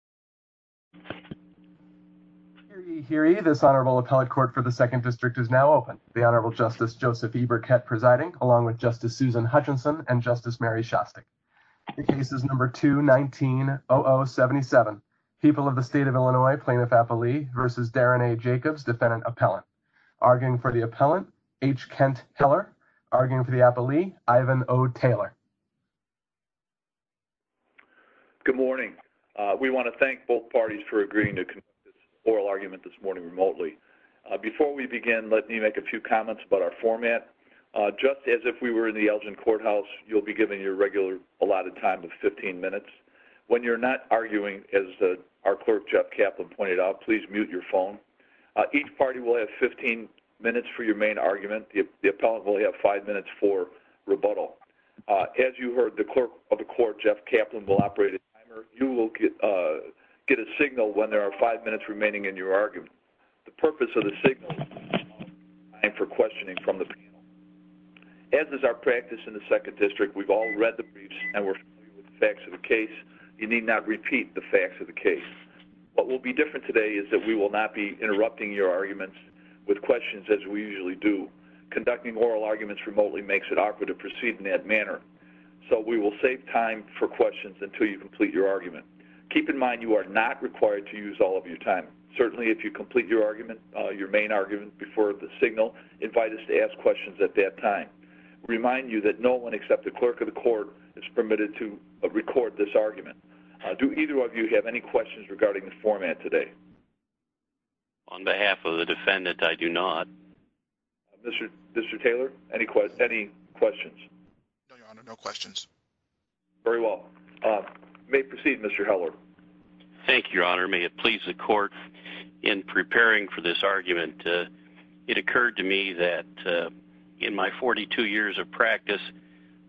. This is now open. The honorable justice Joseph E. Burkett presiding along with justice Susan Hutchinson and justice Mary Shostek. People of the state of Illinois plaintiff versus Darren A. Good morning. We want to thank both parties for agreeing to this oral argument this morning remotely. Before we begin, let me make a few comments about our format. Just as if we were in the Elgin courthouse, you'll be given your allotted time of 15 minutes. When you're not arguing, as our clerk Jeff Kaplan pointed out, please mute your phone. Each party will have 15 minutes for your main argument. The appellant will have five minutes for rebuttal. As you heard, the clerk of the court Jeff Kaplan will operate a signal when there are five minutes remaining in your argument. As is our practice in the second district, we've all read the briefs and we're familiar with the facts of the case. You need not repeat the facts of the case. What will be different today is that we will not be interrupting your arguments with questions as we usually do. Conducting oral arguments remotely makes it awkward to proceed in that manner. So we will save time for questions until you complete your argument. Keep in mind you are not required to use all of your time. Certainly if you complete your argument, your main argument before the signal, invite us to ask questions at that time. Remind you that no one except the clerk of the court is permitted to record this argument. Do either of you have any questions regarding the format today? On behalf of the defendant, I do not. Mr. Taylor, any questions? No, Your Honor, no questions. Very well. We may proceed, Mr. Heller. Thank you, Your Honor. May it please the court, in preparing for this argument, it occurred to me that in my 42 years of practice,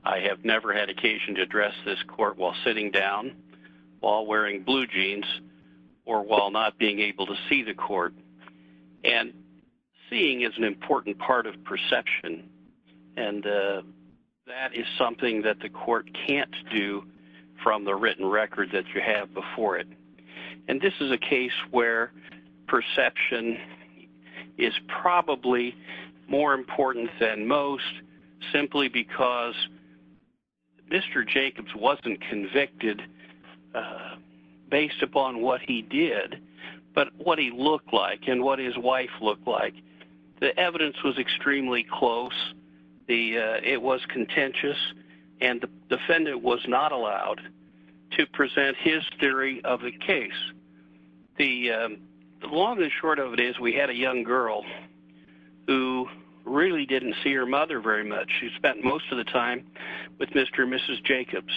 I have never had occasion to address this court while sitting down, while wearing blue jeans, or while not being able to see the court. And seeing is an important part of perception. And that is something that the defense can't do. It's something that you can't do from the written record that you have before it. And this is a case where perception is probably more important than most, simply because Mr. Jacobs wasn't convicted based upon what he did, but what he looked like and what his wife looked like. The evidence was extremely close. It was contentious. And the defendant was not allowed to present his theory of the case. The long and short of it is we had a young girl who really didn't see her mother very much. She spent most of the time with Mr. and Mrs. Jacobs.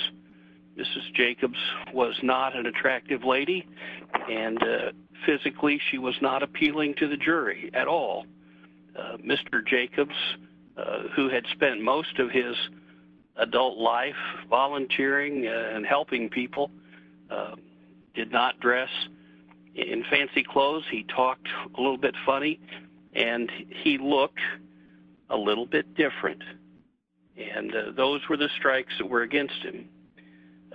Mrs. Jacobs was not an attractive lady, and physically she was not appealing to the jury at all. Mr. Jacobs, who had spent most of his adult life volunteering and helping people, did not dress in fancy clothes. He talked a little bit funny, and he looked a little bit different. And those were the strikes that were against him.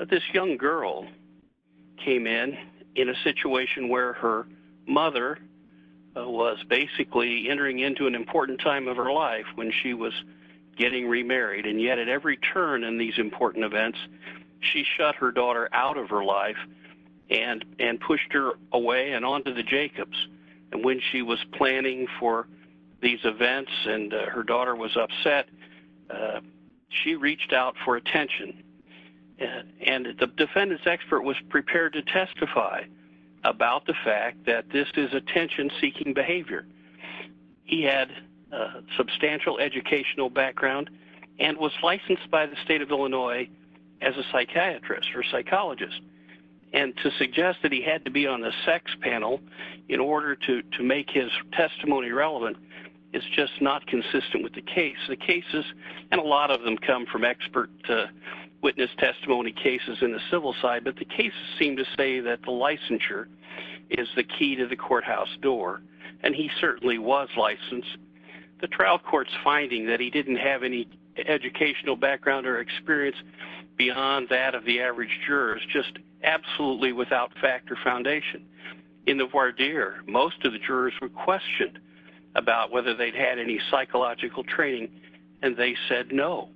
This young girl came in in a situation where her mother was basically entering into an important time of her life when she was getting remarried. And yet at every turn in these important events, she shut her daughter out of her life and pushed her away and on to the Jacobs. And when she was planning for these events and her daughter was upset, she reached out for attention. And the defendant's expert was prepared to testify about the fact that this is attention seeking behavior. He had substantial educational background and was licensed by the state of Illinois as a psychiatrist or psychologist. And to suggest that he had to be on the sex panel in order to make his testimony relevant is just not consistent with the case. The cases, and a lot of them come from expert witness testimony cases in the civil side, but the cases seem to say that the licensure is the key to determining whether or not the defendant is a psychiatrist or psychologist. He certainly was licensed. The trial court's finding that he didn't have any educational background or experience beyond that of the average jurors, just absolutely without fact or foundation. In the voir dire, most of the jurors were questioned about whether they had any psychological training, and they said no.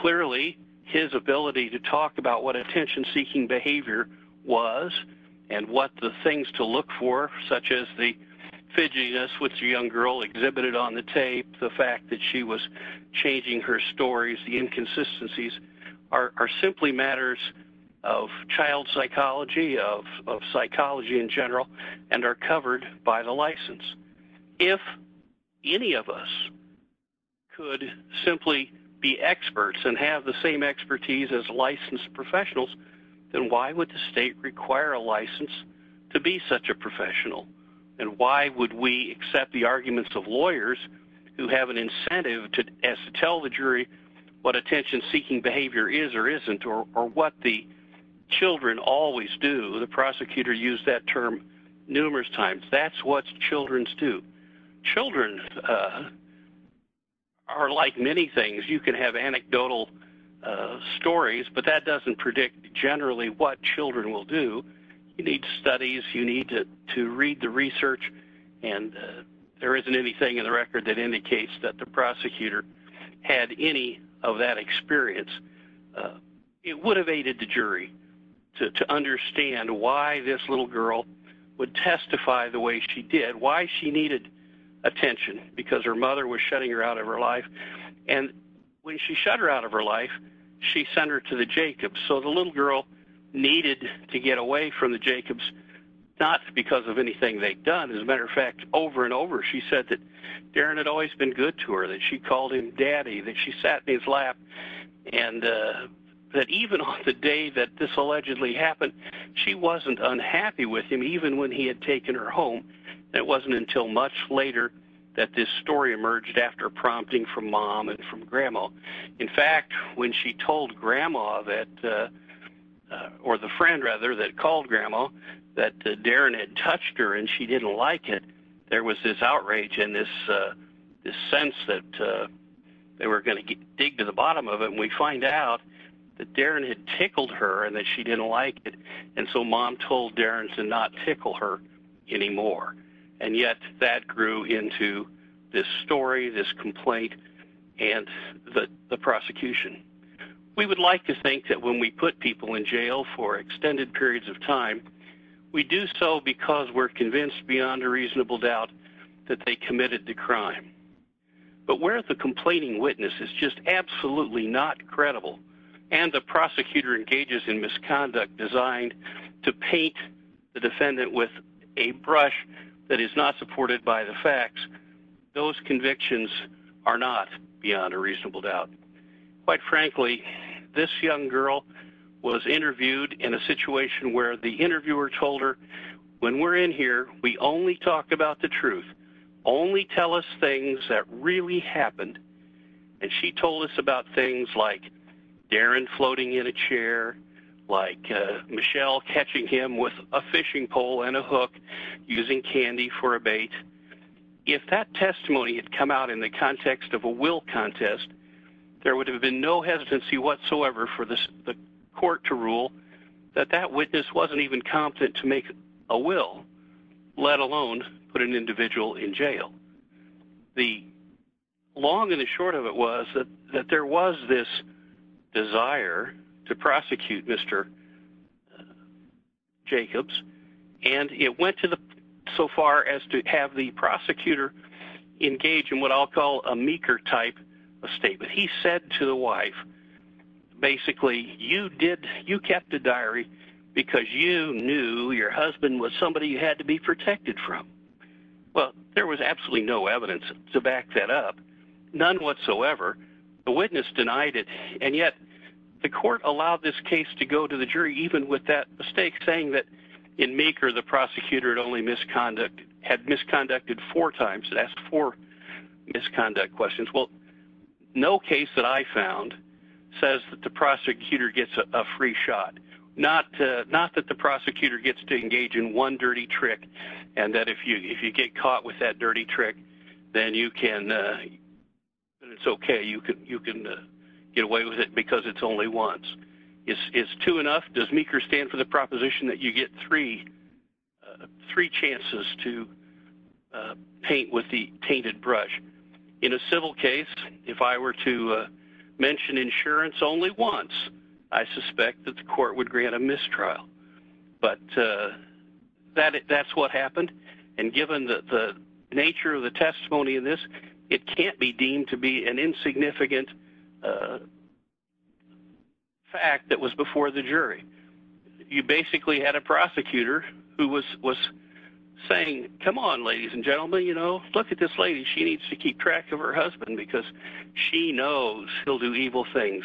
Clearly his ability to talk about what attention-seeking behavior was and what the things to look for, such as the fidgetiness with the young girl exhibited on the tape, the fact that she was changing her stories, the inconsistencies, are simply matters of child psychology, of psychology in general, and are covered by the license. If any of us could simply be experts and have the same expertise as licensed professionals, then why would the state require a license to be such a professional? And why would we accept the arguments of lawyers who have an incentive to tell the jury what attention-seeking behavior is or isn't, or what the children always do? The prosecutor used that term numerous times. That's what children do. Children are like many things. You can have anecdotal stories, but that doesn't predict generally what children will do. You need studies. You need to read the research, and there isn't anything in the record that indicates that the prosecutor had any of that experience. It would have aided the jury to understand why this little girl would testify the way she did, why she needed attention, because her mother was shutting her out of her life. And when she shut her out of her life, she sent her to the Jacobs. So the little girl needed to get away from the Jacobs not because of anything they'd done. As a matter of fact, over and over she said that Darren had always been good to her, that she called him Daddy, that she sat in his lap, and that even on the day that this allegedly happened, she wasn't unhappy with him, even when he had taken her home. It wasn't until much later that this story emerged after prompting from Mom and from Grandma. In fact, when she told Grandma that, or the friend rather that called Grandma, that Darren had touched her and she didn't like it, there was this outrage and this sense that they were going to dig to the bottom of it. And we find out that Darren had tickled her and that she didn't like it. And so Mom told Darren to not tickle her anymore. And yet that grew into this story, this complaint, and the prosecution. We would like to think that when we put people in jail for extended periods of time, we do so because we're convinced beyond a reasonable doubt that they committed the crime. But where the complaining witness is just absolutely not credible, and the prosecutor engages in misconduct designed to paint the defendant with a picture that is not supported by the facts, those convictions are not beyond a reasonable doubt. Quite frankly, this young girl was interviewed in a situation where the interviewer told her when we're in here, we only talk about the truth, only tell us things that really happened, and she told us about things like Darren floating in a chair, like Michelle catching him with a fishing rod. interviewer told her that if that testimony had come out in the context of a will contest, there would have been no hesitancy whatsoever for the court to rule that that witness wasn't even competent to make a will, let alone put an individual in jail. The long and the short of it was that there was this desire to have the prosecutor engage in what I'll call a meeker type of statement. He said to the wife, basically, you did, you kept a diary because you knew your husband was somebody you had to be protected from. Well, there was absolutely no evidence to back that up, none whatsoever. The witness denied it, and yet the court allowed this case to go to the jury even with that mistake, saying that in meeker the prosecutor had only misconducted, had misconducted four times, asked four misconduct questions. Well, no case that I found says that the prosecutor gets a free shot. Not that the prosecutor gets to engage in one dirty trick and that if you get caught with that dirty trick, then you can, it's okay, you can get away with it because it's only once. Is two enough? Does meeker stand for the proposition that you get three chances to paint with the tainted brush? In a civil case, if I were to mention insurance only once, I suspect that the court would grant a mistrial, but that's what happened, and given the nature of the testimony in this, it can't be deemed to be an You basically had a prosecutor who had been convicted of misconduct. You had a prosecutor who had You had a prosecutor who was saying, come on, ladies and gentlemen, you know, look at this lady, she needs to keep track of her husband because she knows he'll do evil things,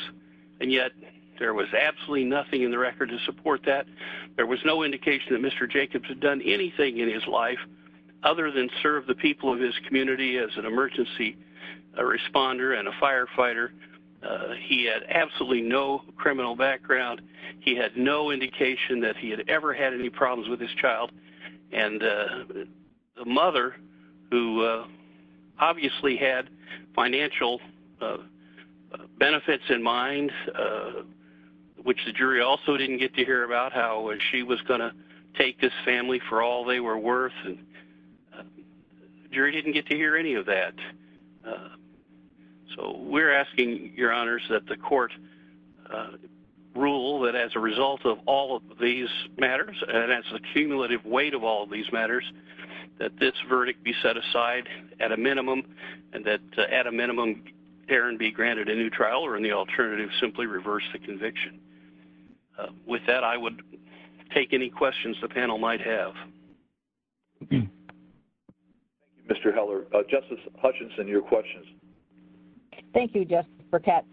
and yet there was absolutely nothing in the record to support that. There was no indication that Mr. life other than serve the people of his community as an emergency responder and a And the mother, who obviously had financial benefits in mind, which the jury also didn't get to hear about, how she was going to take this family for all they were worth. The jury didn't get to hear any of that. So we're asking, your honors, result of all of these matters court rule that as a result of all of these matters and as the accused, that the court rule that as a result of all of these matters, that this verdict be set aside at a minimum and that at a minimum, Aaron be granted a new trial or in the alternative, simply reverse the conviction. With that, I would take any questions the panel might have. Mr. Heller. Justice Hutchinson, your questions. Thank you, Justice Burkett.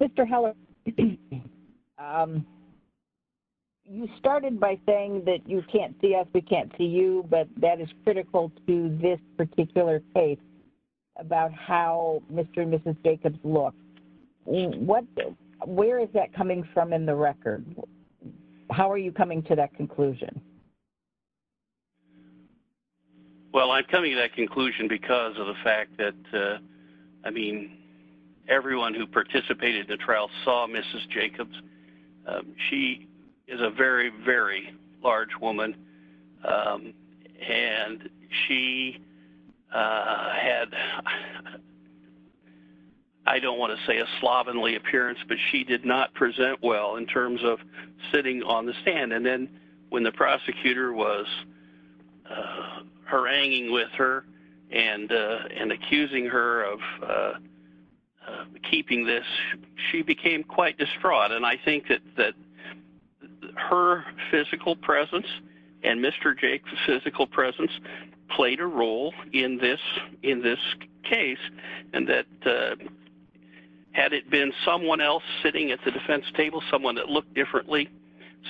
Mr. Heller, you started by saying that you felt that the trial was critical to the You said, we can't see us, we can't see you, but that is critical to this particular case about how Mr. and Mrs. Jacobs look. Where is that coming from in the record? How are you coming to that conclusion? Well, I'm coming to that conclusion because of the fact that, I mean, everyone who participated in the trial saw Mrs. Jacobs. She is a very, very large woman. And she had, I don't want to say a slovenly appearance, but she did not present well in terms of sitting on the stand. And then when the prosecutor was haranguing with her and And I think that that is important. And I think that that is important. And I think that her physical presence and Mr. Jacobs' physical presence played a role in this case and that had it been someone else sitting at the defense table, someone that looked differently,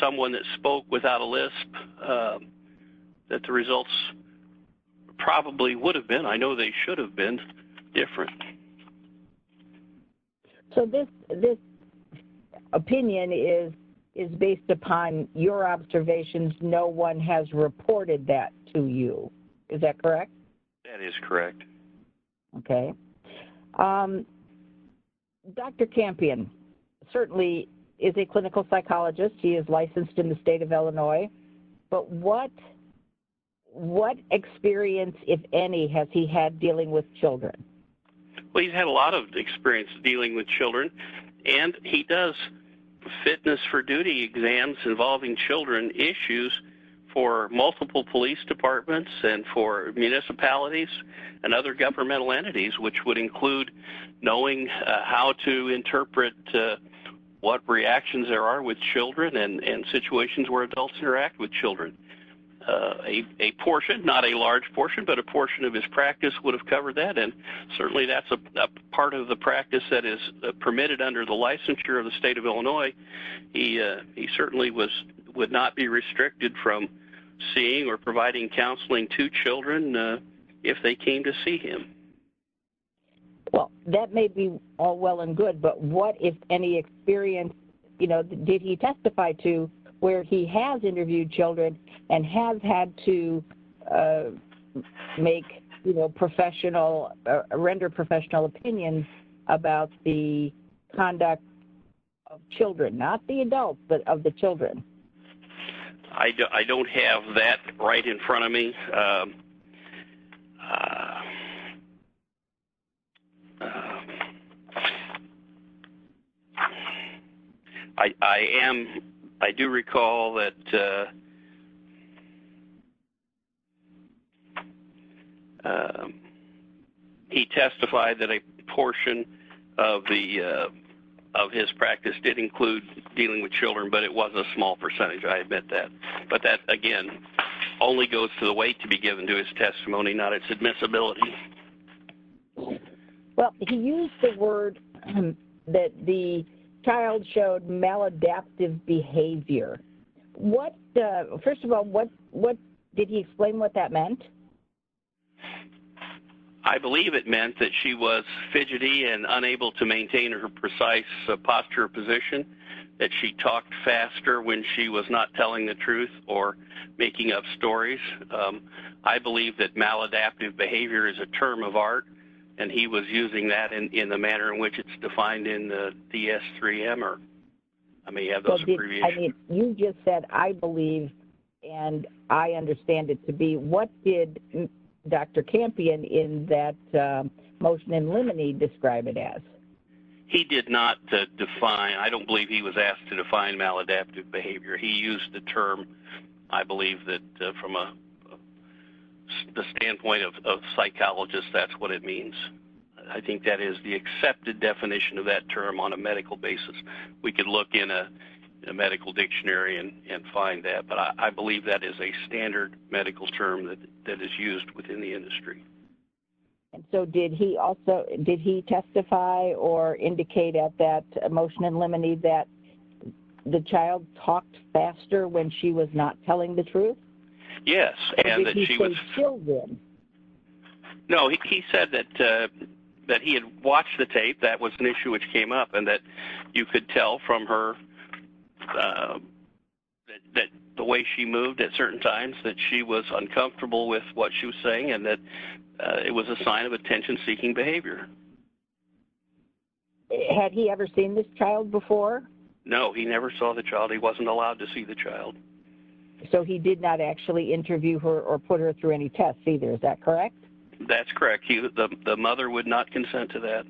someone that spoke without a lisp, that the I know they should have been different. So this appears to me to be something that is not So my opinion is based upon your observations. No one has reported that to you. Is that correct? That is correct. Okay. Dr. Campion certainly is a clinical psychologist. He is licensed in the state of Illinois. But what experience, if any, has he had dealing with children? Well, he's had a lot of experience dealing with children. And he does fitness for duty exams involving children, issues for multiple police departments and for municipalities and other governmental entities, which would include knowing how to interpret what reactions there are with children and situations where adults interact with children. A portion, not a large portion, but a portion of his practice would have covered that. And certainly that's a part of the practice that is permitted under the licensure of the state of Illinois. He certainly would not be restricted from seeing or providing counseling to children if they came to see him. Well, that may be all well and good. But what, if any, experience did he testify to where he has interviewed children and has had to make, you know, render professional opinions about the conduct of children, not the adult, but of the children? I don't have that right in front of me. I do recall that he testified that a portion of his practice did include dealing with children, but it was a small percentage. I admit that. But that, again, only goes to the weight to be given to his testimony, not its admissibility. Well, he used the word that the child showed maladaptive behavior. First of all, did he explain what that meant? I believe it meant that she was fidgety and unable to maintain her precise posture or position, that she talked faster when she was not telling the truth or making up stories. I believe that maladaptive behavior is a term of art, and he was using that in the manner in which it's defined in the DS3M, or I may have those abbreviations. You just said, I believe and I understand it to be, what did Dr. Campion in that motion in limine describe it as? He did not define, I don't believe he was asked to define maladaptive behavior. He used the term, I believe that from a standpoint of psychologists, that's what it means. I think that is the accepted definition of that term on a medical basis. We could look in a medical dictionary and find that, but I believe that is a standard medical term that is used within the industry. Did he also, did he testify or indicate at that motion in limine that the child talked faster when she was not telling the truth? Yes. Did he say, kill them? No. He said that he had watched the tape, that was an issue which came up, and that you could tell from her that the way she moved at certain times that she was uncomfortable with what she was saying and that it was a sign of attention seeking behavior. Had he ever seen this child before? No, he never saw the child. He wasn't allowed to see the child. So he did not actually interview her or put her through any tests either, is that correct? That's correct. The mother would not consent to that.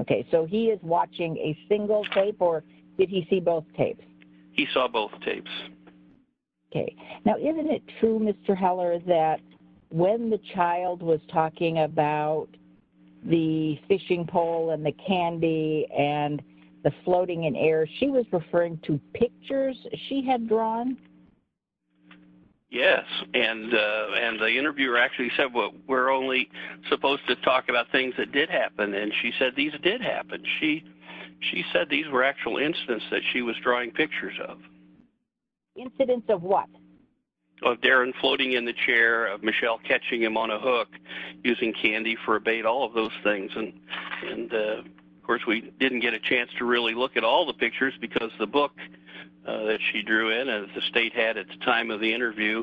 Okay. So he is watching a single tape or did he see both tapes? He saw both tapes. Okay. Now, isn't it true, Mr. Heller, that when the child was talking about the fishing pole and the candy and the floating in air, she was referring to pictures she had drawn? Yes. And the interviewer actually said, well, we're only supposed to talk about things that did happen, and she said these did happen. She said these were actual incidents that she was drawing pictures of. Incidents of what? Of Darren floating in the chair, of Michelle catching him on a hook, using candy for a bait, all of those things. And, of course, we didn't get a chance to really look at all the pictures because the book that she drew in, as the state had at the time of the interview,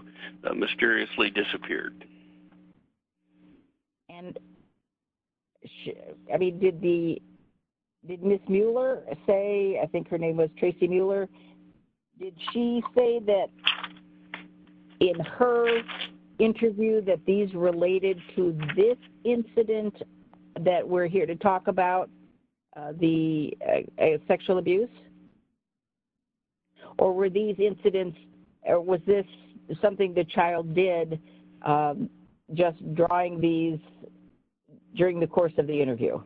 mysteriously disappeared. And, I mean, did the, did Ms. Mueller say I think her name was Tracy Mueller. Did she say that in her interview that these related to this incident that we're here to talk about the sexual abuse? Or were these incidents or was this something the child did just drawing these during the course of the interview?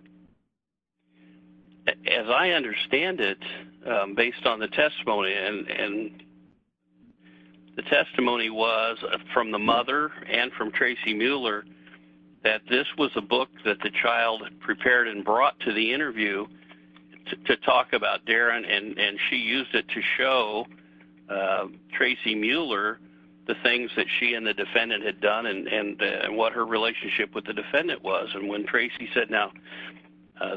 As I understand it, based on the testimony, and the testimony was from the mother and from Tracy Mueller, that this was a book that the child prepared and brought to the interview to talk about Darren and she used it to show Tracy Mueller the things that she and the defendant had done and what her relationship with the defendant was. And when Tracy said, now,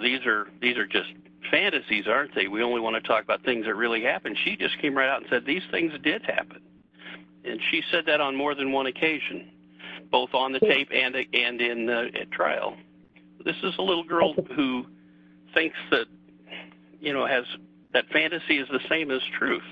these are just fantasies, aren't they? We only want to talk about things that really happened. She just came right out and said these things did happen. And she said that on more than one occasion, both on the tape and in the trial. This is a little girl who thinks that, you know, has, that fantasy is the same as truth.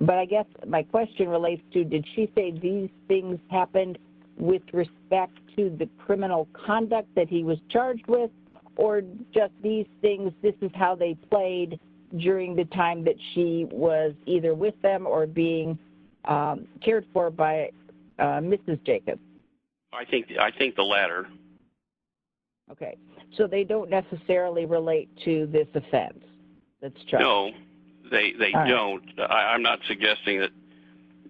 But I guess my question relates to did she say these things happened with respect to the criminal conduct that he was charged with? Or just these things, this is how they played during the time that she was either with them or being cared for by Mrs. Jacobs? I think the latter. Okay. So they don't necessarily relate to this offense that's charged? No, they don't. I'm not suggesting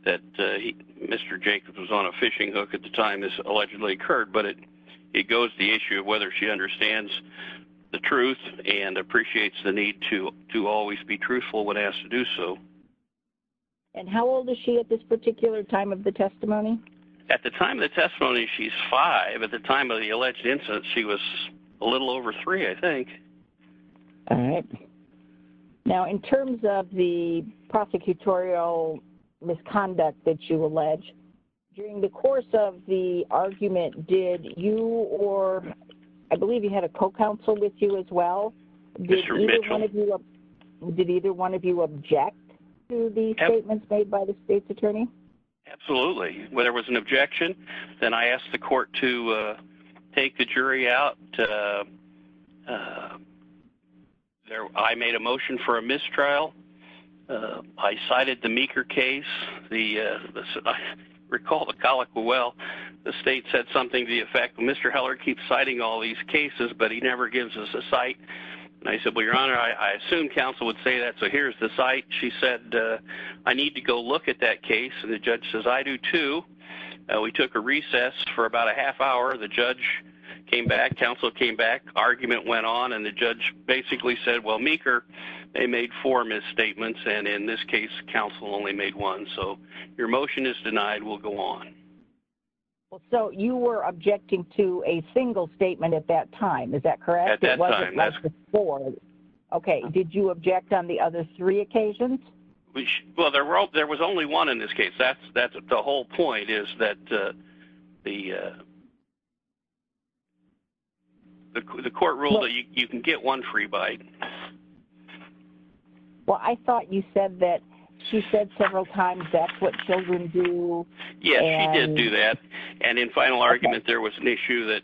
that Mr. Jacobs was on a fishing hook at the time this allegedly occurred, but it goes to the issue of whether she understands the truth and appreciates the need to always be truthful when asked to do so. And how old is she at this particular time of the testimony? At the time of the testimony, she's five. At the time of the alleged incident, she was a little over three, I think. All right. Now, in terms of the prosecutorial misconduct that you allege, during the course of the argument, did you or I believe you had a co-counsel with you as well? Mr. Mitchell. Did either one of you object to the statements made by the state's attorney? Absolutely. When there was an objection, then I asked the court to take the jury out. I made a motion for a mistrial. I cited the Meeker case. I recall the colloquial, well, the state said something to the effect, Mr. Heller keeps citing all these cases, but he never gives us a cite. I said, well, Your Honor, I assume counsel would say that, so here's the cite. She said, I need to go look at that case. The judge says, I do, too. We took a recess for about a half hour. The judge came back. Counsel came back. Argument went on, and the judge basically said, well, Meeker, they made four misstatements, and in this case, counsel only made one, so your motion is denied. We'll go on. So you were objecting to a single statement at that time. Is that correct? At that time. Okay. Did you object on the other three occasions? Well, there was only one in this case. The whole point is that the court ruled that you can get one free bite. Well, I thought you said that she said several times that's what children do. Yes, she did do that, and in final argument, there was an issue that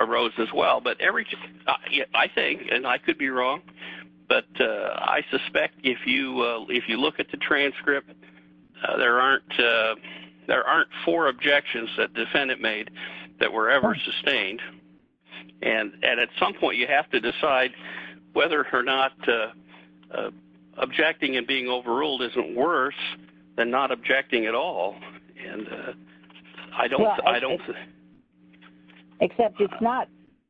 arose as well, but I think, and I could be wrong, but I suspect if you look at the transcript, there aren't four objections that defendant made that were ever sustained, and at some point, you have to decide whether or not objecting and being overruled isn't worse than not objecting at all, and I don't think. Except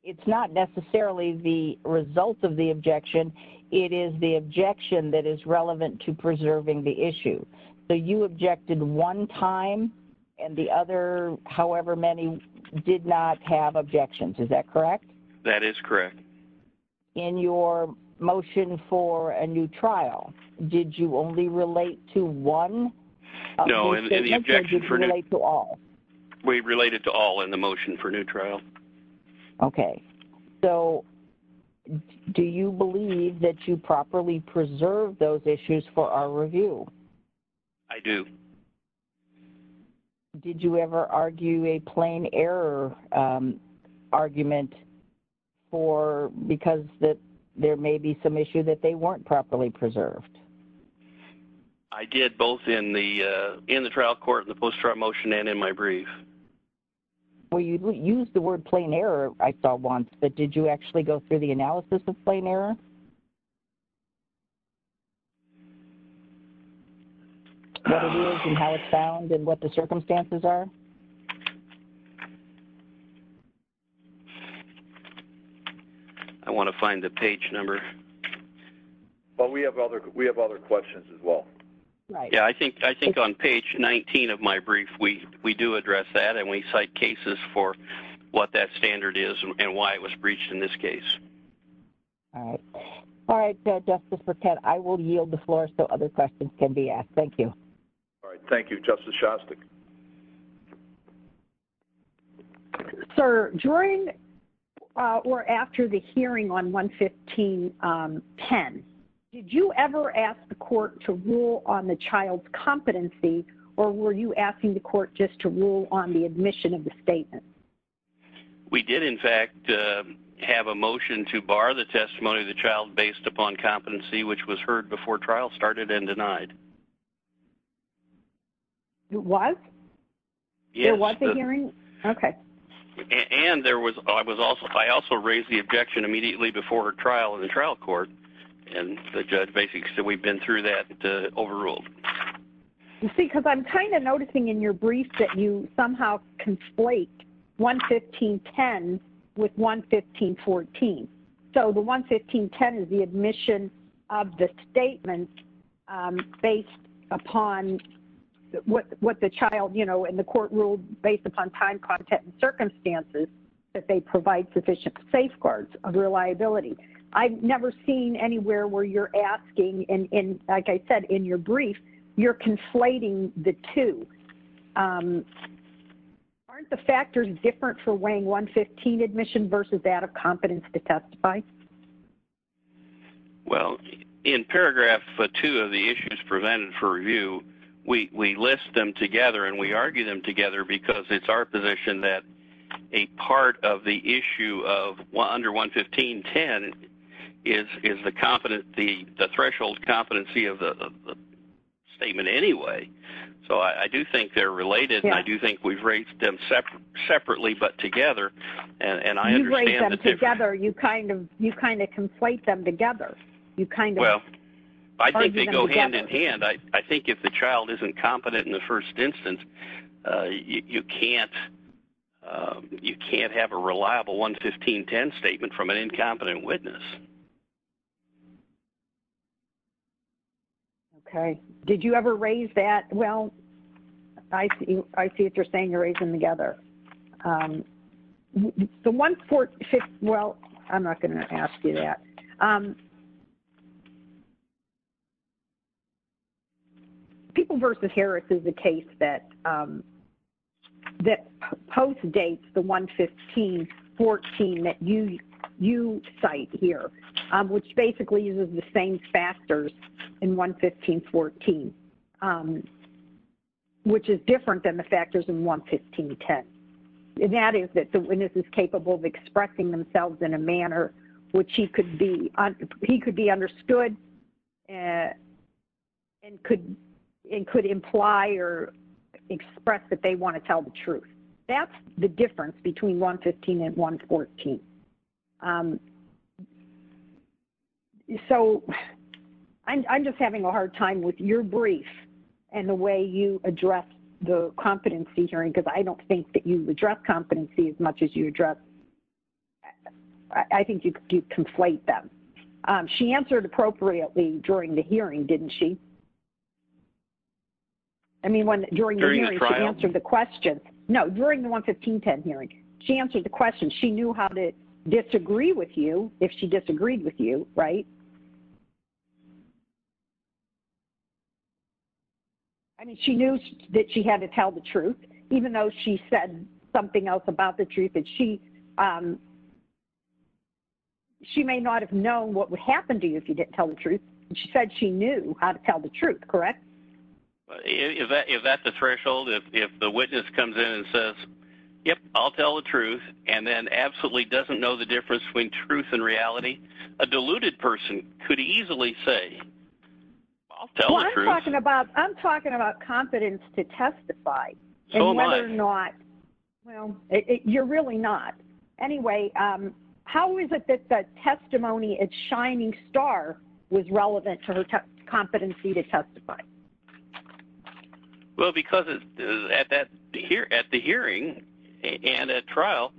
it's not necessarily the result of the objection. It is the objection that is relevant to preserving the issue. So you objected one time, and the other however many did not have objections. Is that correct? That is correct. In your motion for a new trial, did you only relate to one? No, in the objection for new trial. We related to all in the motion for new trial. Okay. So do you believe that you properly preserved those issues for our review? I do. Did you ever argue a plain error argument for because there may be some issue that they weren't properly preserved? I did, both in the trial court and the post-trial motion and in my brief. Well, you used the word plain error I saw once, but did you actually go through the analysis of plain error? What it is and how it's found and what the circumstances are? I want to find the page number. We have other questions as well. I think on page 19 of my brief, we do address that and we cite cases for what that standard is and why it was breached in this case. All right. Justice Burkett, I will yield the floor so other questions can be asked. Thank you. Thank you, Justice Shostak. Sir, during or after the hearing on 115.10, did you ever ask the court to rule on the child's competency or were you asking the court just to rule on the admission of the statement? We did, in fact, have a motion to bar the testimony of the child based upon competency which was heard before trial started and denied. It was? It was a hearing? Okay. And I also raised the objection immediately before trial in the trial court and the judge basically said we've been through that, overruled. You see, because I'm kind of noticing in your brief that you somehow conflate 115.10 with 115.14. So the 115.10 is the admission of the statement based upon what the child, you know, and the court ruled based upon time, content, and circumstances that they provide sufficient safeguards of reliability. I've never seen anywhere where you're asking, like I said in your brief, you're conflating the two. Aren't the factors different for weighing 115 admission versus that of competence to testify? Well, in paragraph two of the issues presented for review, we list them together and we argue them together because it's our view that the issue of under 115.10 is the threshold competency of the statement anyway. So I do think they're related and I do think we've raised them separately but together. You've raised them together. You kind of conflate them together. Well, I think they go hand in hand. I think if the child isn't competent in the first instance, you can't have a reliable 115.10 statement from an incompetent witness. Okay. Did you ever raise that? Well, I see what you're saying, you're raising them together. The 146, well, I'm not going to ask you that. People versus Harris is a case that postdates the 115.14 that you cite here, which basically uses the same factors in 115.14, which is different than the factors in 115.10. That is that the witness is capable of expressing themselves in a manner which he could be understood and could imply or express that they want to tell the truth. That's the difference between 115.10 and 115.14. So I'm just having a hard time with your brief and the way you address the competency hearing because I don't think that you address competency as much as you address, I think you conflate them. She answered appropriately during the hearing, didn't she? I mean, during the hearing she answered the question. No, during the 115.10 hearing, she answered the question. She knew how to disagree with you if she disagreed with you, right? I mean, she knew that she had to tell the truth, even though she said something else about the truth and she may not have known what would happen to you if you didn't tell the truth. She said she knew how to tell the truth, correct? Is that the threshold? If the witness comes in and says, yep, I'll tell the truth and then absolutely doesn't know the difference between truth and reality, a deluded person could easily say, I'll tell the truth. I'm talking about confidence to testify and whether or not, well, you're really not. Anyway, how is it that the deluded person is not relevant to her competency to testify? Well, because at the hearing and at trial,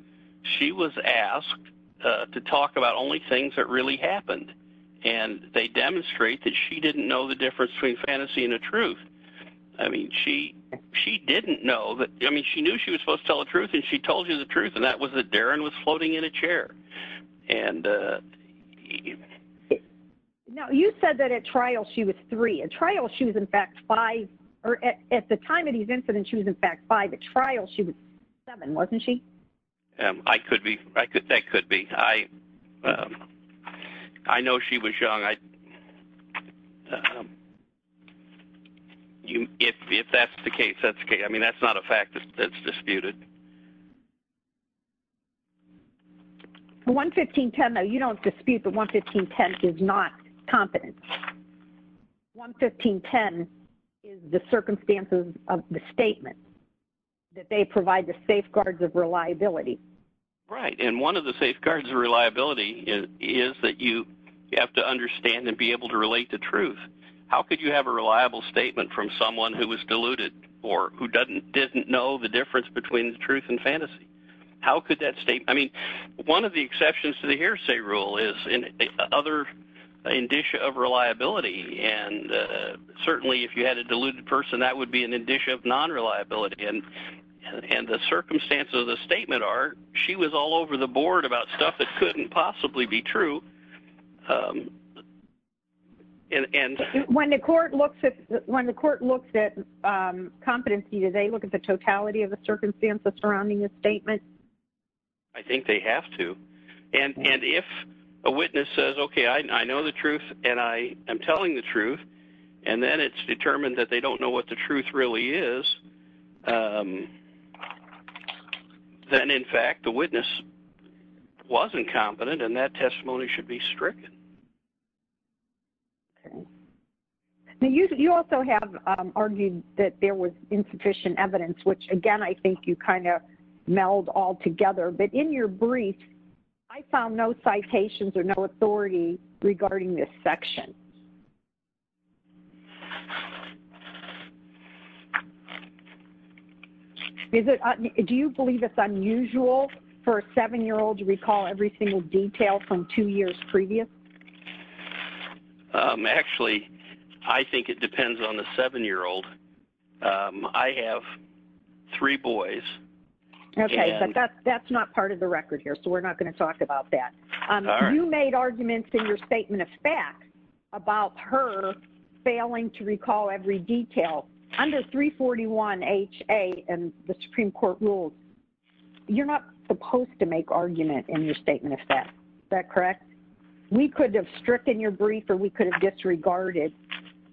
she was asked to talk about only things that really happened and they demonstrate that she didn't know the difference between fantasy and the truth. I mean, she didn't know. I mean, she knew she was supposed to tell the truth and she told you the truth and that was that Darren was floating in a chair. Now, you said that at trial, she was three. At trial, she was in fact five. At the time of these incidents, she was in fact five. At trial, she was seven, wasn't she? I could be. That could be. I know she was young. If that's the case, that's okay. I mean, that's not a fact that's disputed. 115.10, though, you don't dispute that 115.10 is not competence. 115.10 is the circumstances of the statement that they provide the safeguards of reliability. Right. And one of the safeguards of reliability is that you have to understand and be able to relate to truth. statement from someone who was deluded or who didn't know the difference between fantasy and the truth? I mean, one of the exceptions to the hearsay rule is other indicia of reliability. And certainly if you had a deluded person, that would be an indicia of non-reliability. And the circumstances of the statement are she was all over the board about stuff that couldn't possibly be true. competency, do they look at the totality of the circumstances or do they look at the evidence surrounding the statement? I think they have to. And if a witness says, okay, I know the truth and I am telling the truth, and then it's determined that they don't know what the truth really is, then, in fact, the witness wasn't competent and that testimony should be stricken. You also have argued that there was insufficient evidence, which again, I think you kind of meld all together. But in your brief, I found no citations or no authority regarding this section. Do you believe it's unusual for a 7-year-old to recall every single detail from two years previous? Actually, I think it depends on the 7-year-old. I have three boys. Okay. But that's not part of the record here, so we're not going to talk about that. You made arguments in your statement of fact about her failing to recall every detail. Under 341HA and the Supreme Court rules, you're not supposed to make argument in your statement of fact. Is that correct? We could have stricken your statement of fact and disregarded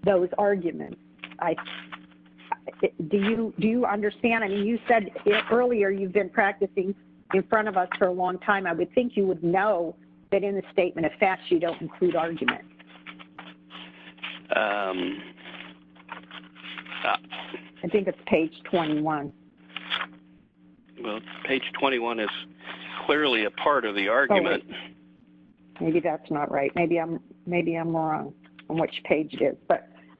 those arguments. Do you understand? I mean, you said earlier you've been practicing in front of us for a long time. I would think you would know that in the statement of fact you don't include arguments. I think it's page 21. Page 21 is clearly a part of the argument. Maybe that's not right. Maybe I'm wrong on which page it is.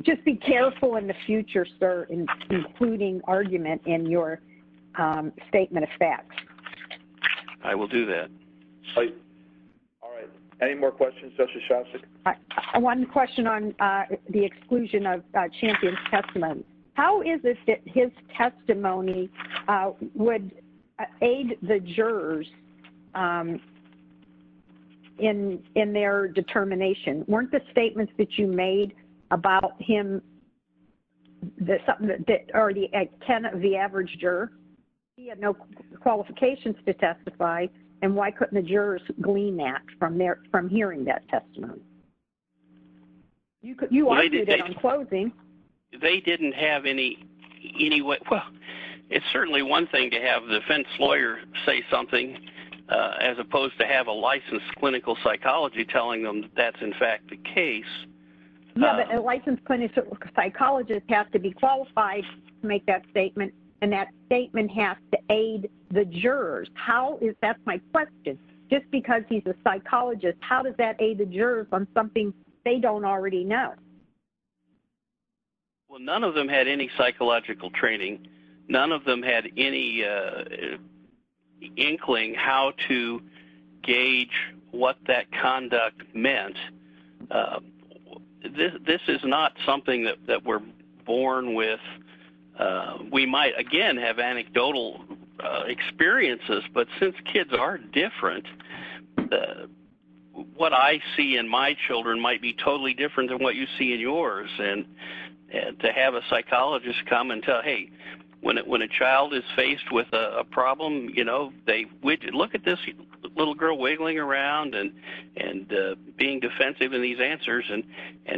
Just be careful in the future, sir, including argument in your statement of fact. I will do that. All right. Any more questions, Justice Shostak? One question on the exclusion of Champion's testimony. How is it that his testimony would aid the jurors in their determination? Weren't the statements that you made about him something that already ten of the average juror had no qualifications to testify and why couldn't the jurors glean that from hearing that testimony? You argued it on closing. They didn't have any... It's certainly one thing to have a defense lawyer say something as opposed to have a licensed clinical psychology telling them that's in fact the case. Licensed clinical psychologists have to be qualified to make that statement and that statement has to aid the jurors. That's my question. Just because he's a psychologist, how does that aid the jurors on something they don't already know? None of them had any psychological training. None of them had any inkling how to gauge what that conduct meant. This is not something that we're born with. We might, again, have anecdotal experiences, but since kids are different, what I see in my children might be totally different than what you see in yours. To have a when a child is faced with a problem, look at this little girl wiggling around and being defensive in these answers.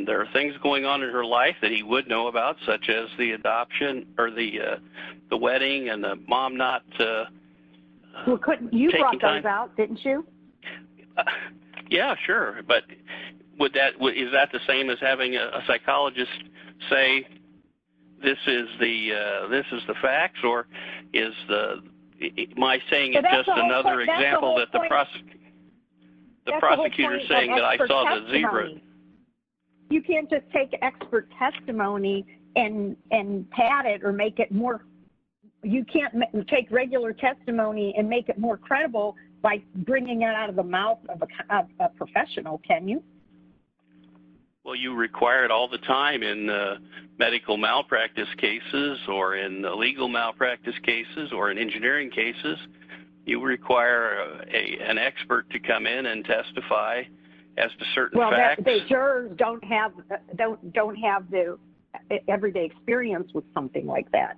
There are things going on in her life that he would know about, such as the adoption or the wedding and the mom not taking time. You brought those out, didn't you? Yeah, sure. Is that the same as having a psychologist say this is the facts? Am I saying it's just another example that the prosecutor is saying that I saw the zebra? You can't just take expert testimony and pat it or make it more... You can't take regular testimony and make it more credible by bringing it out of the mouth of a professional, can you? You require it all the time in medical malpractice cases or in legal malpractice cases or in engineering cases. You require an expert to come in and testify as to certain facts. They sure don't have the everyday experience with something like that.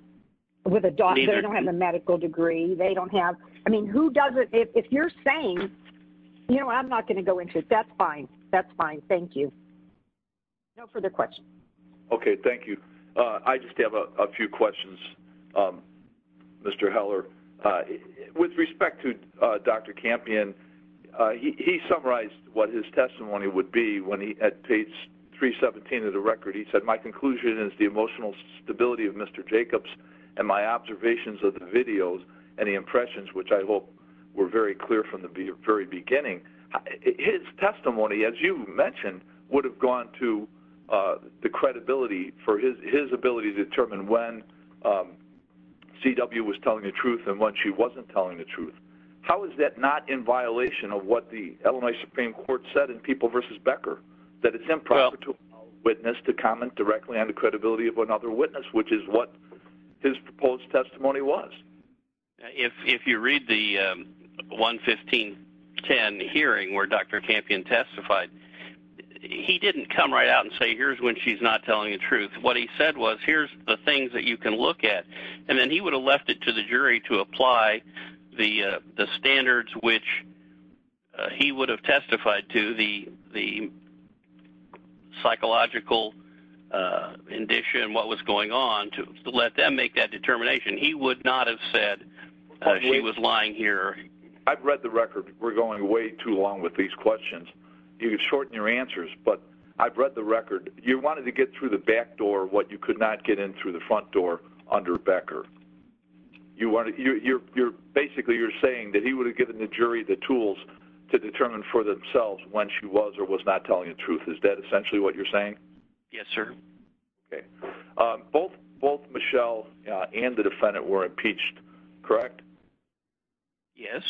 They don't have a medical degree. They don't have... If you're saying, I'm not going to go into it. That's fine. Thank you. No further questions. Okay. Thank you. I just have a few questions, Mr. Heller. With respect to Dr. Campion, he summarized what his testimony would be when he, at page 317 of the record, he said, my conclusion is the emotional stability of Mr. Jacobs and my observations of the videos and the impressions, which I hope were very clear from the very beginning. His testimony, as you mentioned, would have gone to the credibility for his ability to determine when C.W. was telling the truth and when she wasn't telling the truth. How is that not in violation of what the Illinois Supreme Court said in People v. Becker, that it's improper to allow a witness to comment directly on the credibility of another witness, which is what his proposed testimony was? If you read the 11510 hearing where Dr. Campion testified, he didn't come right out and say, here's when she's not telling the truth. What he said was, here's the things that you can look at, and then he would have left it to the jury to apply the standards which he would have testified to, the psychological condition, what was going on, to let them make that determination. He would not have said she was lying here. I've read the record. We're going way too long with these questions. You can shorten your answers, but I've read the record. You wanted to get through the back door what you could not get in through the front door under Becker. Basically, you're saying that he would have given the jury the tools to determine for themselves when she was or was not telling the truth. Is that essentially what you're saying? Yes, sir. Both Michelle and the defendant were impeached, correct? Yes.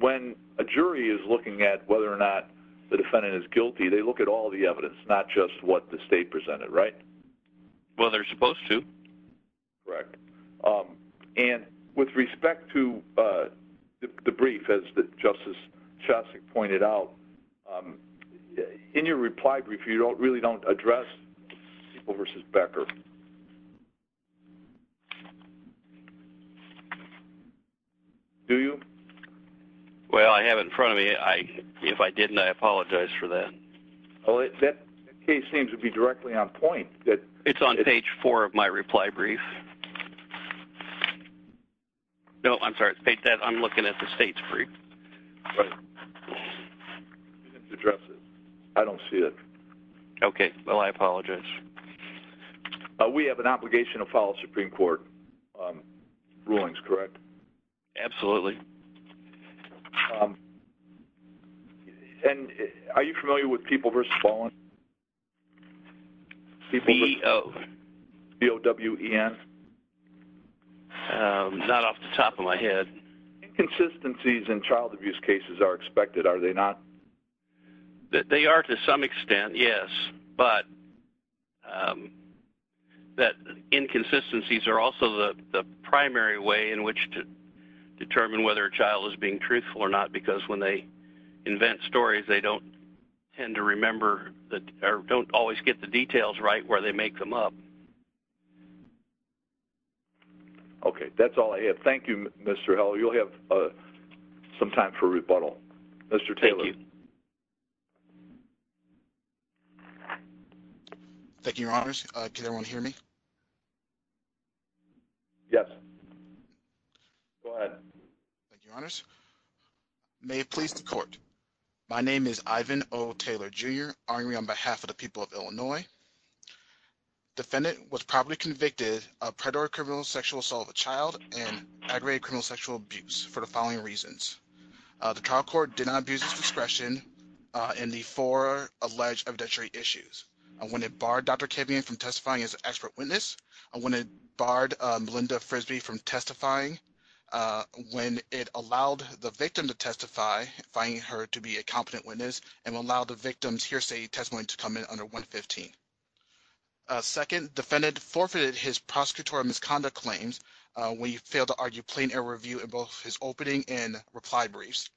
When a jury is looking at whether or not the defendant is guilty, they look at all the evidence, not just what the state presented, right? Well, they're supposed to. Correct. With respect to the brief, as Justice Shostak pointed out, in your reply brief, you really don't address People v. Becker. Do you? Well, I have it in front of me. If I didn't, I apologize for that. That case seems to be directly on point. It's on page 4 of my reply brief. No, I'm sorry. I'm looking at the state's brief. Right. You didn't address it. I don't see it. Okay. Well, I apologize. We have an obligation to follow Supreme Court rulings, correct? Absolutely. Are you familiar with People v. Fallon? C-E-O. C-O-W-E-N? Not off the top of my head. Inconsistencies in child abuse cases are expected, are they not? They are to some extent, yes. But inconsistencies are also the primary way in which to determine whether a child is being truthful or not, because when they invent stories, they don't tend to remember or don't always get the details right where they make them up. Okay. That's all I have. Thank you, Mr. Hill. You'll have some time for rebuttal. Mr. Taylor. Thank you, Your Honors. Can everyone hear me? Yes. Go ahead. Thank you, Your Honors. May it please the Court. My name is Ivan O. Taylor, Jr., arguing on behalf of the people of Illinois. The defendant was probably convicted of predatory criminal sexual assault of a child and aggravated criminal sexual abuse for the following reasons. The trial court did not abuse its discretion in the four alleged evidentiary issues. When it barred Dr. Kevian from testifying as an expert witness, when it barred Melinda Frisby from testifying, when it allowed the victim to testify, finding her to be a competent witness, and when it allowed the victim's client to testify. Second, the defendant forfeited his prosecutorial misconduct claims when he failed to argue plain error review in both his opening and reply briefs.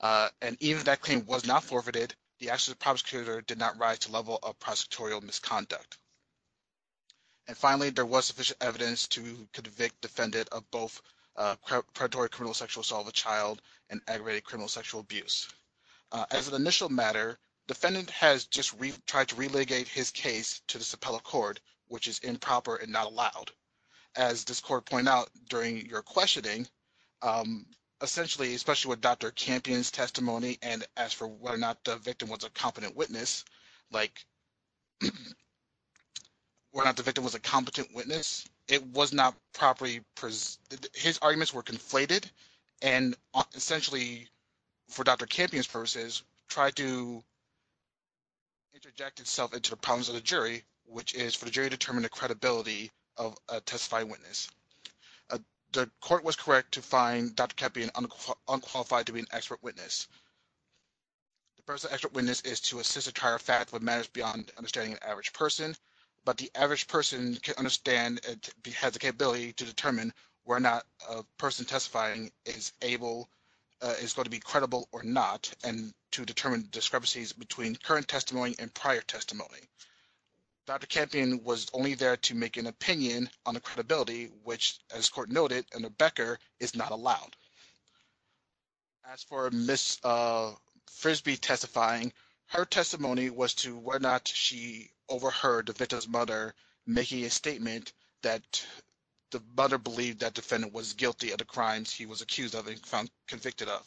And even if that claim was not forfeited, the actions of the prosecutor did not rise to the level of prosecutorial misconduct. And finally, there was sufficient evidence to convict the defendant of both predatory criminal sexual assault of a child and aggravated criminal sexual abuse. As an initial matter, defendant has just tried to relitigate his case to the Sapella Court, which is improper and not allowed. As this court pointed out during your questioning, essentially, especially with Dr. Kevian's testimony, and as for whether or not the victim was a competent witness, like whether or not the victim was a competent witness, it was not properly presented. His arguments were conflated, and essentially, for Dr. Kevian's case to interject itself into the problems of the jury, which is for the jury to determine the credibility of a testifying witness. The court was correct to find Dr. Kevian unqualified to be an expert witness. The purpose of an expert witness is to assist or try or fact what matters beyond understanding an average person, but the average person can understand and has the capability to determine whether or not a person testifying is able, is going to be able to testify. allowed to make any discrepancies between current testimony and prior testimony. Dr. Kevian was only there to make an opinion on the credibility, which, as court noted under Becker, is not allowed. As for Ms. Frisbee testifying, her testimony was to whether or not she overheard the victim's mother making a statement that the mother believed that the defendant was guilty of the crimes he was accused of and found convicted of.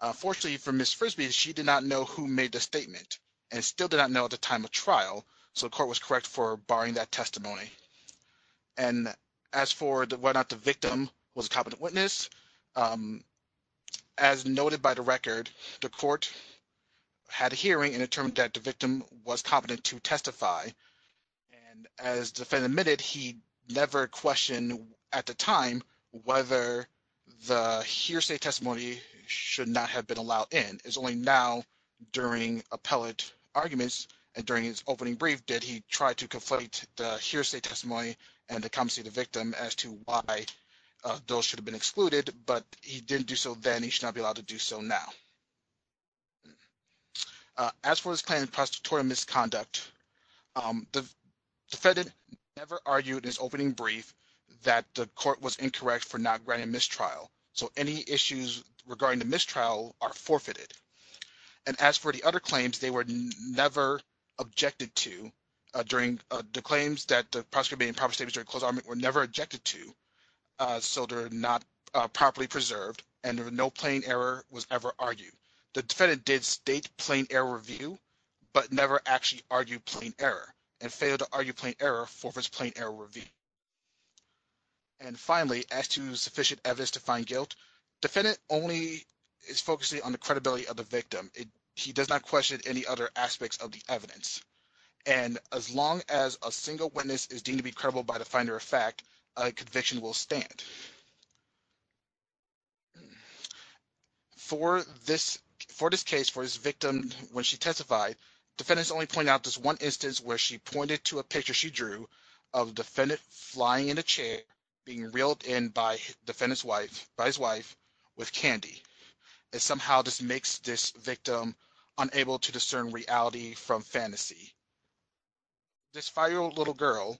Unfortunately for Ms. Frisbee, she did not know who made the statement and still did not know at the time of trial, so the court was correct for barring that testimony. And as for whether or not the victim was a competent witness, as noted by the record, the court had a hearing and determined that the victim was competent to testify. And as the defendant admitted, he never questioned at the time whether the hearsay testimony should not have been allowed in. It's only now during appellate arguments and during his opening brief that he tried to conflate the hearsay testimony and the competency of the victim as to why those should have been excluded, but he didn't do so then. He should not be allowed to do so now. As for his grand and prostitutorial misconduct, the defendant never argued in his opening brief that the court was incorrect for not granting mistrial, so any issues regarding the mistrial are forfeited. And as for the other claims, they were never objected to. The claims that the prosecutor made in proper statements during closed argument were never objected to, so they're not properly preserved, and no plain error was ever argued. The defendant did state plain error review but never actually argued plain error and failed to argue plain error for his plain error review. And finally, as to sufficient evidence to find guilt, the defendant only is focusing on the credibility of the victim. He does not question any other aspects of the evidence. And as long as a single witness is deemed to be credible by the finder of fact, a conviction will stand. For this case, for this victim, when she testified, the defendant only pointed out this one instance where she pointed to a picture she drew of the defendant flying in a chair, being reeled in by the defendant's wife, by his wife, with candy. And somehow this makes this victim unable to discern reality from fantasy. This five-year-old little girl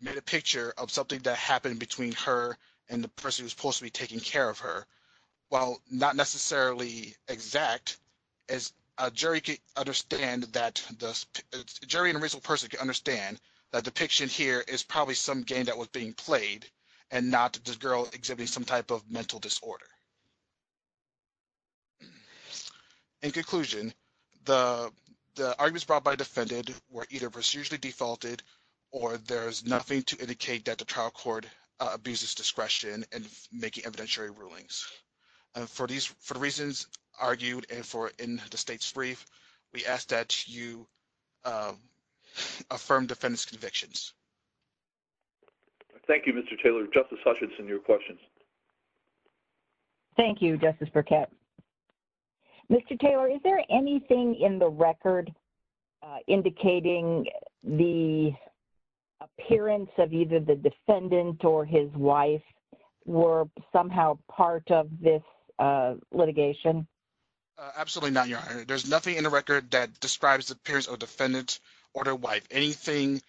made a picture of something that happened between her and her and the person who was supposed to be taking care of her. While not necessarily exact, a jury can understand that the jury and a reasonable person can understand that the picture here is probably some game that was being played and not the girl exhibiting some type of mental disorder. In conclusion, the arguments brought by the defendant were either procedurally defaulted or there is nothing to his discretion in making evidentiary rulings. For the reasons argued in the state's brief, we ask that you affirm defendant's convictions. Thank you, Mr. Taylor. Justice Hutchinson, your questions. Thank you, Justice Burkett. Mr. Taylor, is there anything in the record indicating the appearance of either the defendant or his wife were somehow part of this litigation? Absolutely not, Your Honor. There's nothing in the record that describes the appearance of a defendant or their wife. Any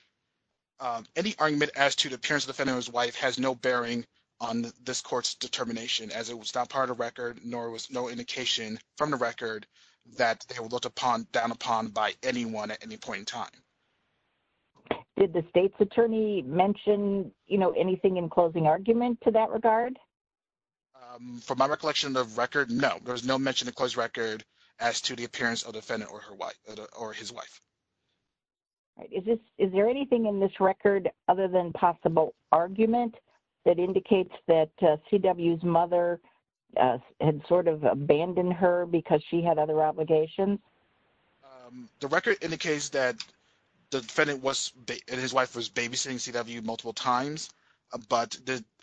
argument as to the appearance of the defendant or his wife has no bearing on this court's determination as it was not part of the record nor was no indication from the record that they were looked down upon by anyone at any point in time. Did the state's attorney mention anything in closing argument to that regard? From my recollection of the record, no. There's no mention in the closed record as to the appearance of the defendant or his wife. Is there anything in this record other than possible argument that indicates that C.W.'s mother had sort of abandoned her because she had other obligations? The record indicates that the defendant and his wife was babysitting C.W. multiple times, but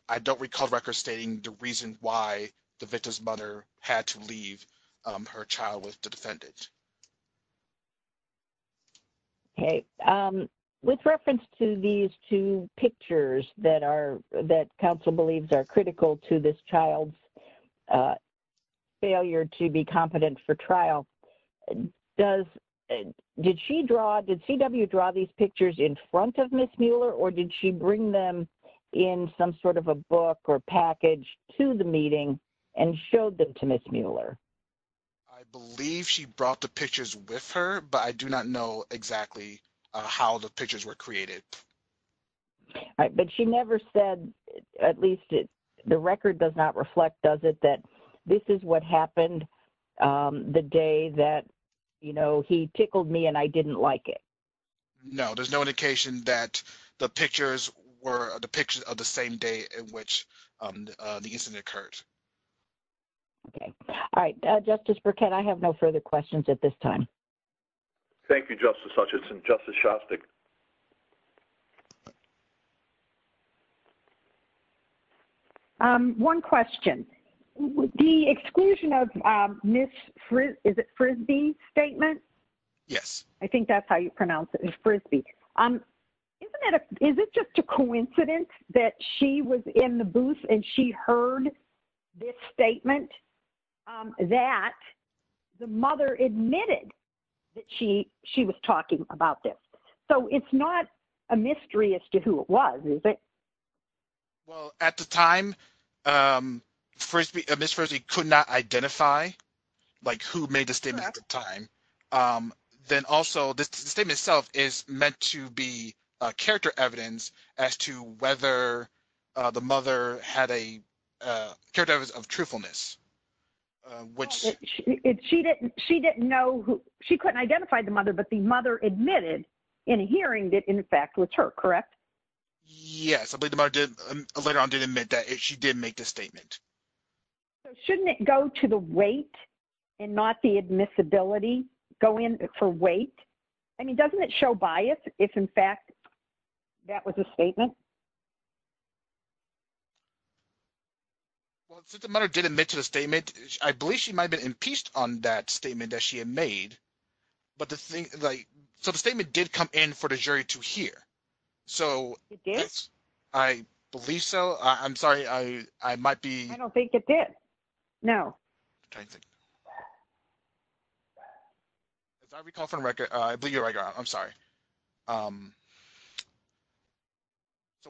I don't recall the record stating the reason why the victim's mother had to leave her child with the defendant. Okay. With reference to these two pictures that counsel believes are critical to this child's failure to be competent for trial, did C.W. draw these pictures in front of Ms. Mueller or did she bring them in some sort of a book or package to the meeting and showed them to Ms. Mueller? I believe she brought the pictures with her, but I do not know exactly how the pictures were created. But she never said, at least the record does not reflect, does it, that this is what happened the day that he tickled me and I didn't like it. No. There's no indication that the pictures were the pictures of the same day in which the incident occurred. Okay. All right. Justice Burkett, I have no further questions at this time. Thank you, Justice Hutchinson. Justice Shostak. Thank you. One question. The exclusion of Ms. Frisby's statement, I think that's how you pronounce it, is it just a coincidence that she was in the booth and she heard this statement that the mother admitted that she was talking about this? So it's not a mystery as to who it was, is it? Well, at the time, Ms. Frisby could not identify who made the statement at the time. Then also, the statement itself is meant to be character evidence as to whether the mother had a character of truthfulness. She couldn't identify the mother, but the mother admitted in hearing that, in fact, it was her, correct? Yes. I believe the mother later on did admit that she did make the statement. Shouldn't it go to the weight and not the admissibility going for weight? I mean, doesn't it show bias if, in fact, that was a statement? Well, since the mother did admit to the statement, I believe she might have been impeached on that statement that she had made. So the statement did come in for the jury to hear. It did? I believe so. I'm sorry. I might be... I don't think it did. No. As I recall from record, I believe you're right, I'm sorry. So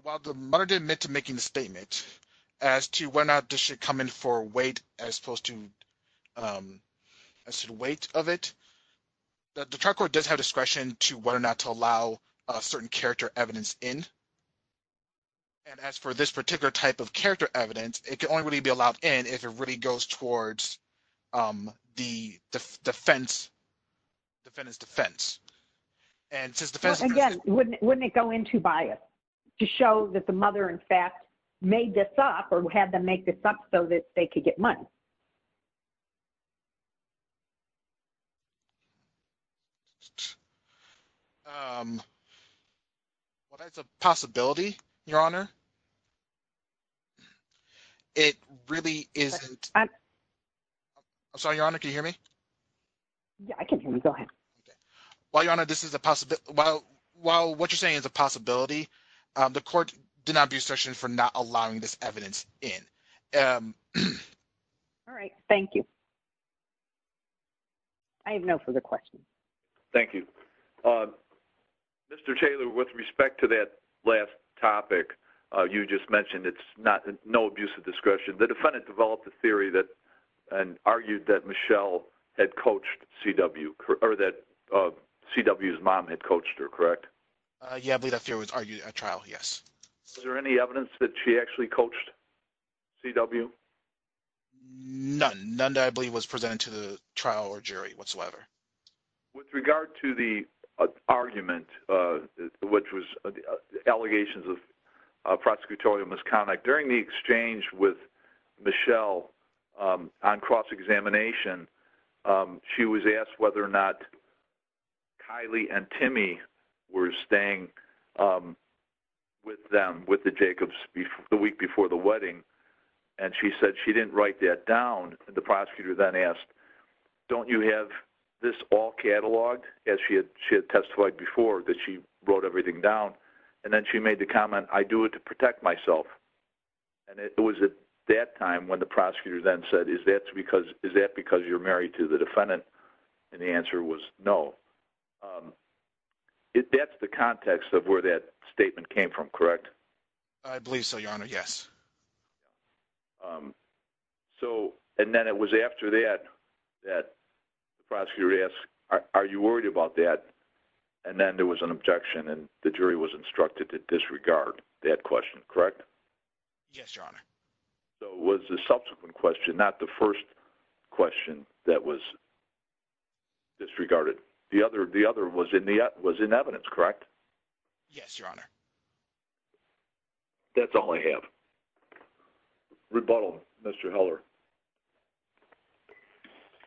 while the mother did admit to making the statement as to whether or not this should come in for weight as opposed to weight of it, the trial court does have discretion to whether or not to allow certain character evidence in. And as for this particular type of character evidence, it can only really be allowed in if it really goes towards the defendant's defense. Again, wouldn't it go into bias to show that the mother, in fact, made this up or had them make this up so that they could get money? Well, that's a possibility, Your Honor. It really isn't. I'm sorry, Your Honor, can you hear me? Yeah, I can hear you. Go ahead. While, Your Honor, this is a possibility... While what you're saying is a possibility, the court did not abuse discretion for not allowing this evidence in. All right. Thank you. I have no further questions. Thank you. Mr. Taylor, with respect to that last topic you just mentioned, it's no abuse of discretion. The defendant developed a theory and argued that Michelle had coached C.W., or that C.W.'s mom had coached her, correct? Yeah, I believe that theory was argued at trial, yes. Is there any evidence that she actually coached C.W.? None. None that I believe was presented to the trial or jury whatsoever. With regard to the argument, which was allegations of prosecutorial misconduct, during the exchange with Michelle on cross-examination, she was asked whether or not Kylie and Timmy were staying with them with the Jacobs the week before the wedding, and she said she didn't write that down. The prosecutor then asked, don't you have this all cataloged, as she had testified before, that she wrote everything down? And then she made the comment, I do it to that time when the prosecutor then said, is that because you're married to the defendant? And the answer was no. That's the context of where that statement came from, correct? I believe so, Your Honor, yes. So, and then it was after that that the prosecutor asked, are you worried about that? And then there was an objection, and the jury was instructed to disregard that question, correct? Yes, Your Honor. So it was the subsequent question, not the first question that was disregarded. The other was in evidence, correct? Yes, Your Honor. That's all I have. Rebuttal, Mr. Heller.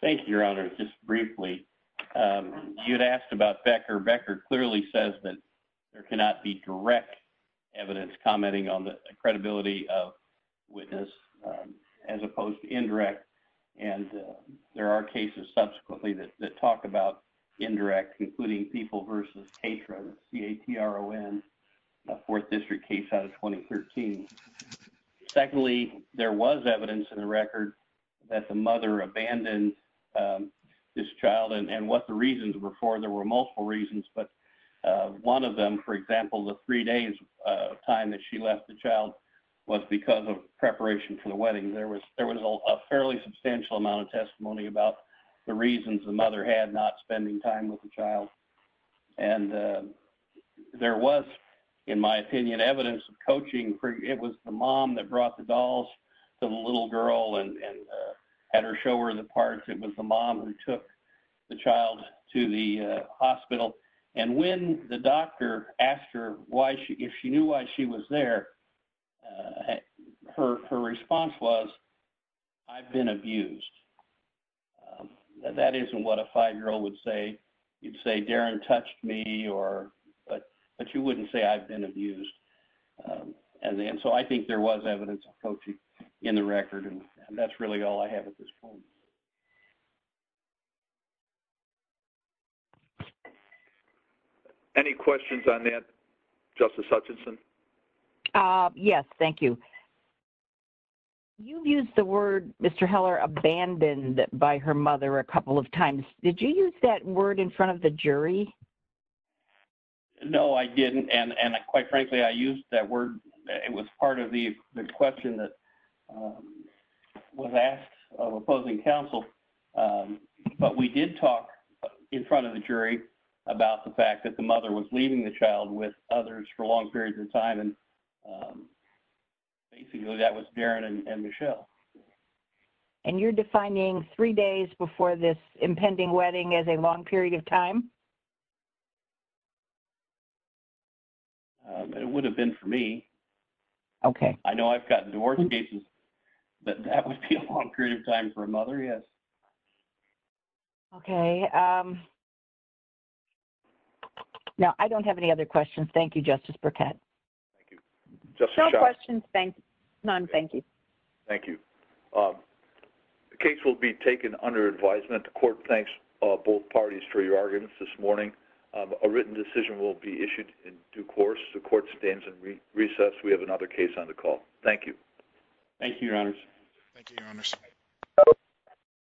Thank you, Your Honor. Just briefly, you had asked about Becker. Becker clearly says that there cannot be on the credibility of witness as opposed to indirect. And there are cases subsequently that talk about indirect, including People v. Katron, K-A-T-R-O-N, a 4th District case out of 2013. Secondly, there was evidence in the record that the mother abandoned this child, and what the reasons were for, there were multiple reasons, but one of them, for example, the three days time that she left the child was because of preparation for the wedding. There was a fairly substantial amount of testimony about the reasons the mother had not spending time with the child. And there was, in my opinion, evidence of coaching. It was the mom that brought the dolls to the little girl and had her show her the parts. It was the mom who took the child to the hospital. And when the doctor asked her if she knew why she was there, her response was, I've been abused. That isn't what a 5-year-old would say. You'd say, Darren touched me, but you wouldn't say, I've been abused. And so I think there was evidence of coaching in the record, and that's really all I have at this point. Any questions on that, Justice Hutchinson? Yes, thank you. You've used the word Mr. Heller abandoned by her mother a couple of times. Did you use that word in front of the jury? No, I didn't, and quite frankly, I used that word. It was part of the question that was asked of opposing counsel. But we did talk in front of the jury about the fact that the mother was leaving the child with others for long periods of time, and basically that was Darren and Michelle. And you're defining three days before this impending wedding as a long period of time? It would have been for me. I know I've gotten divorce cases, but that would be a long period of time for a mother, yes. Okay. Now, I don't have any other questions. Thank you, Justice Burkett. No questions. None. Thank you. Thank you. The case will be taken under advisement. The court thanks both parties for your arguments this morning. A written decision will be issued in due we have another case on the call. Thank you. Thank you, Your Honors.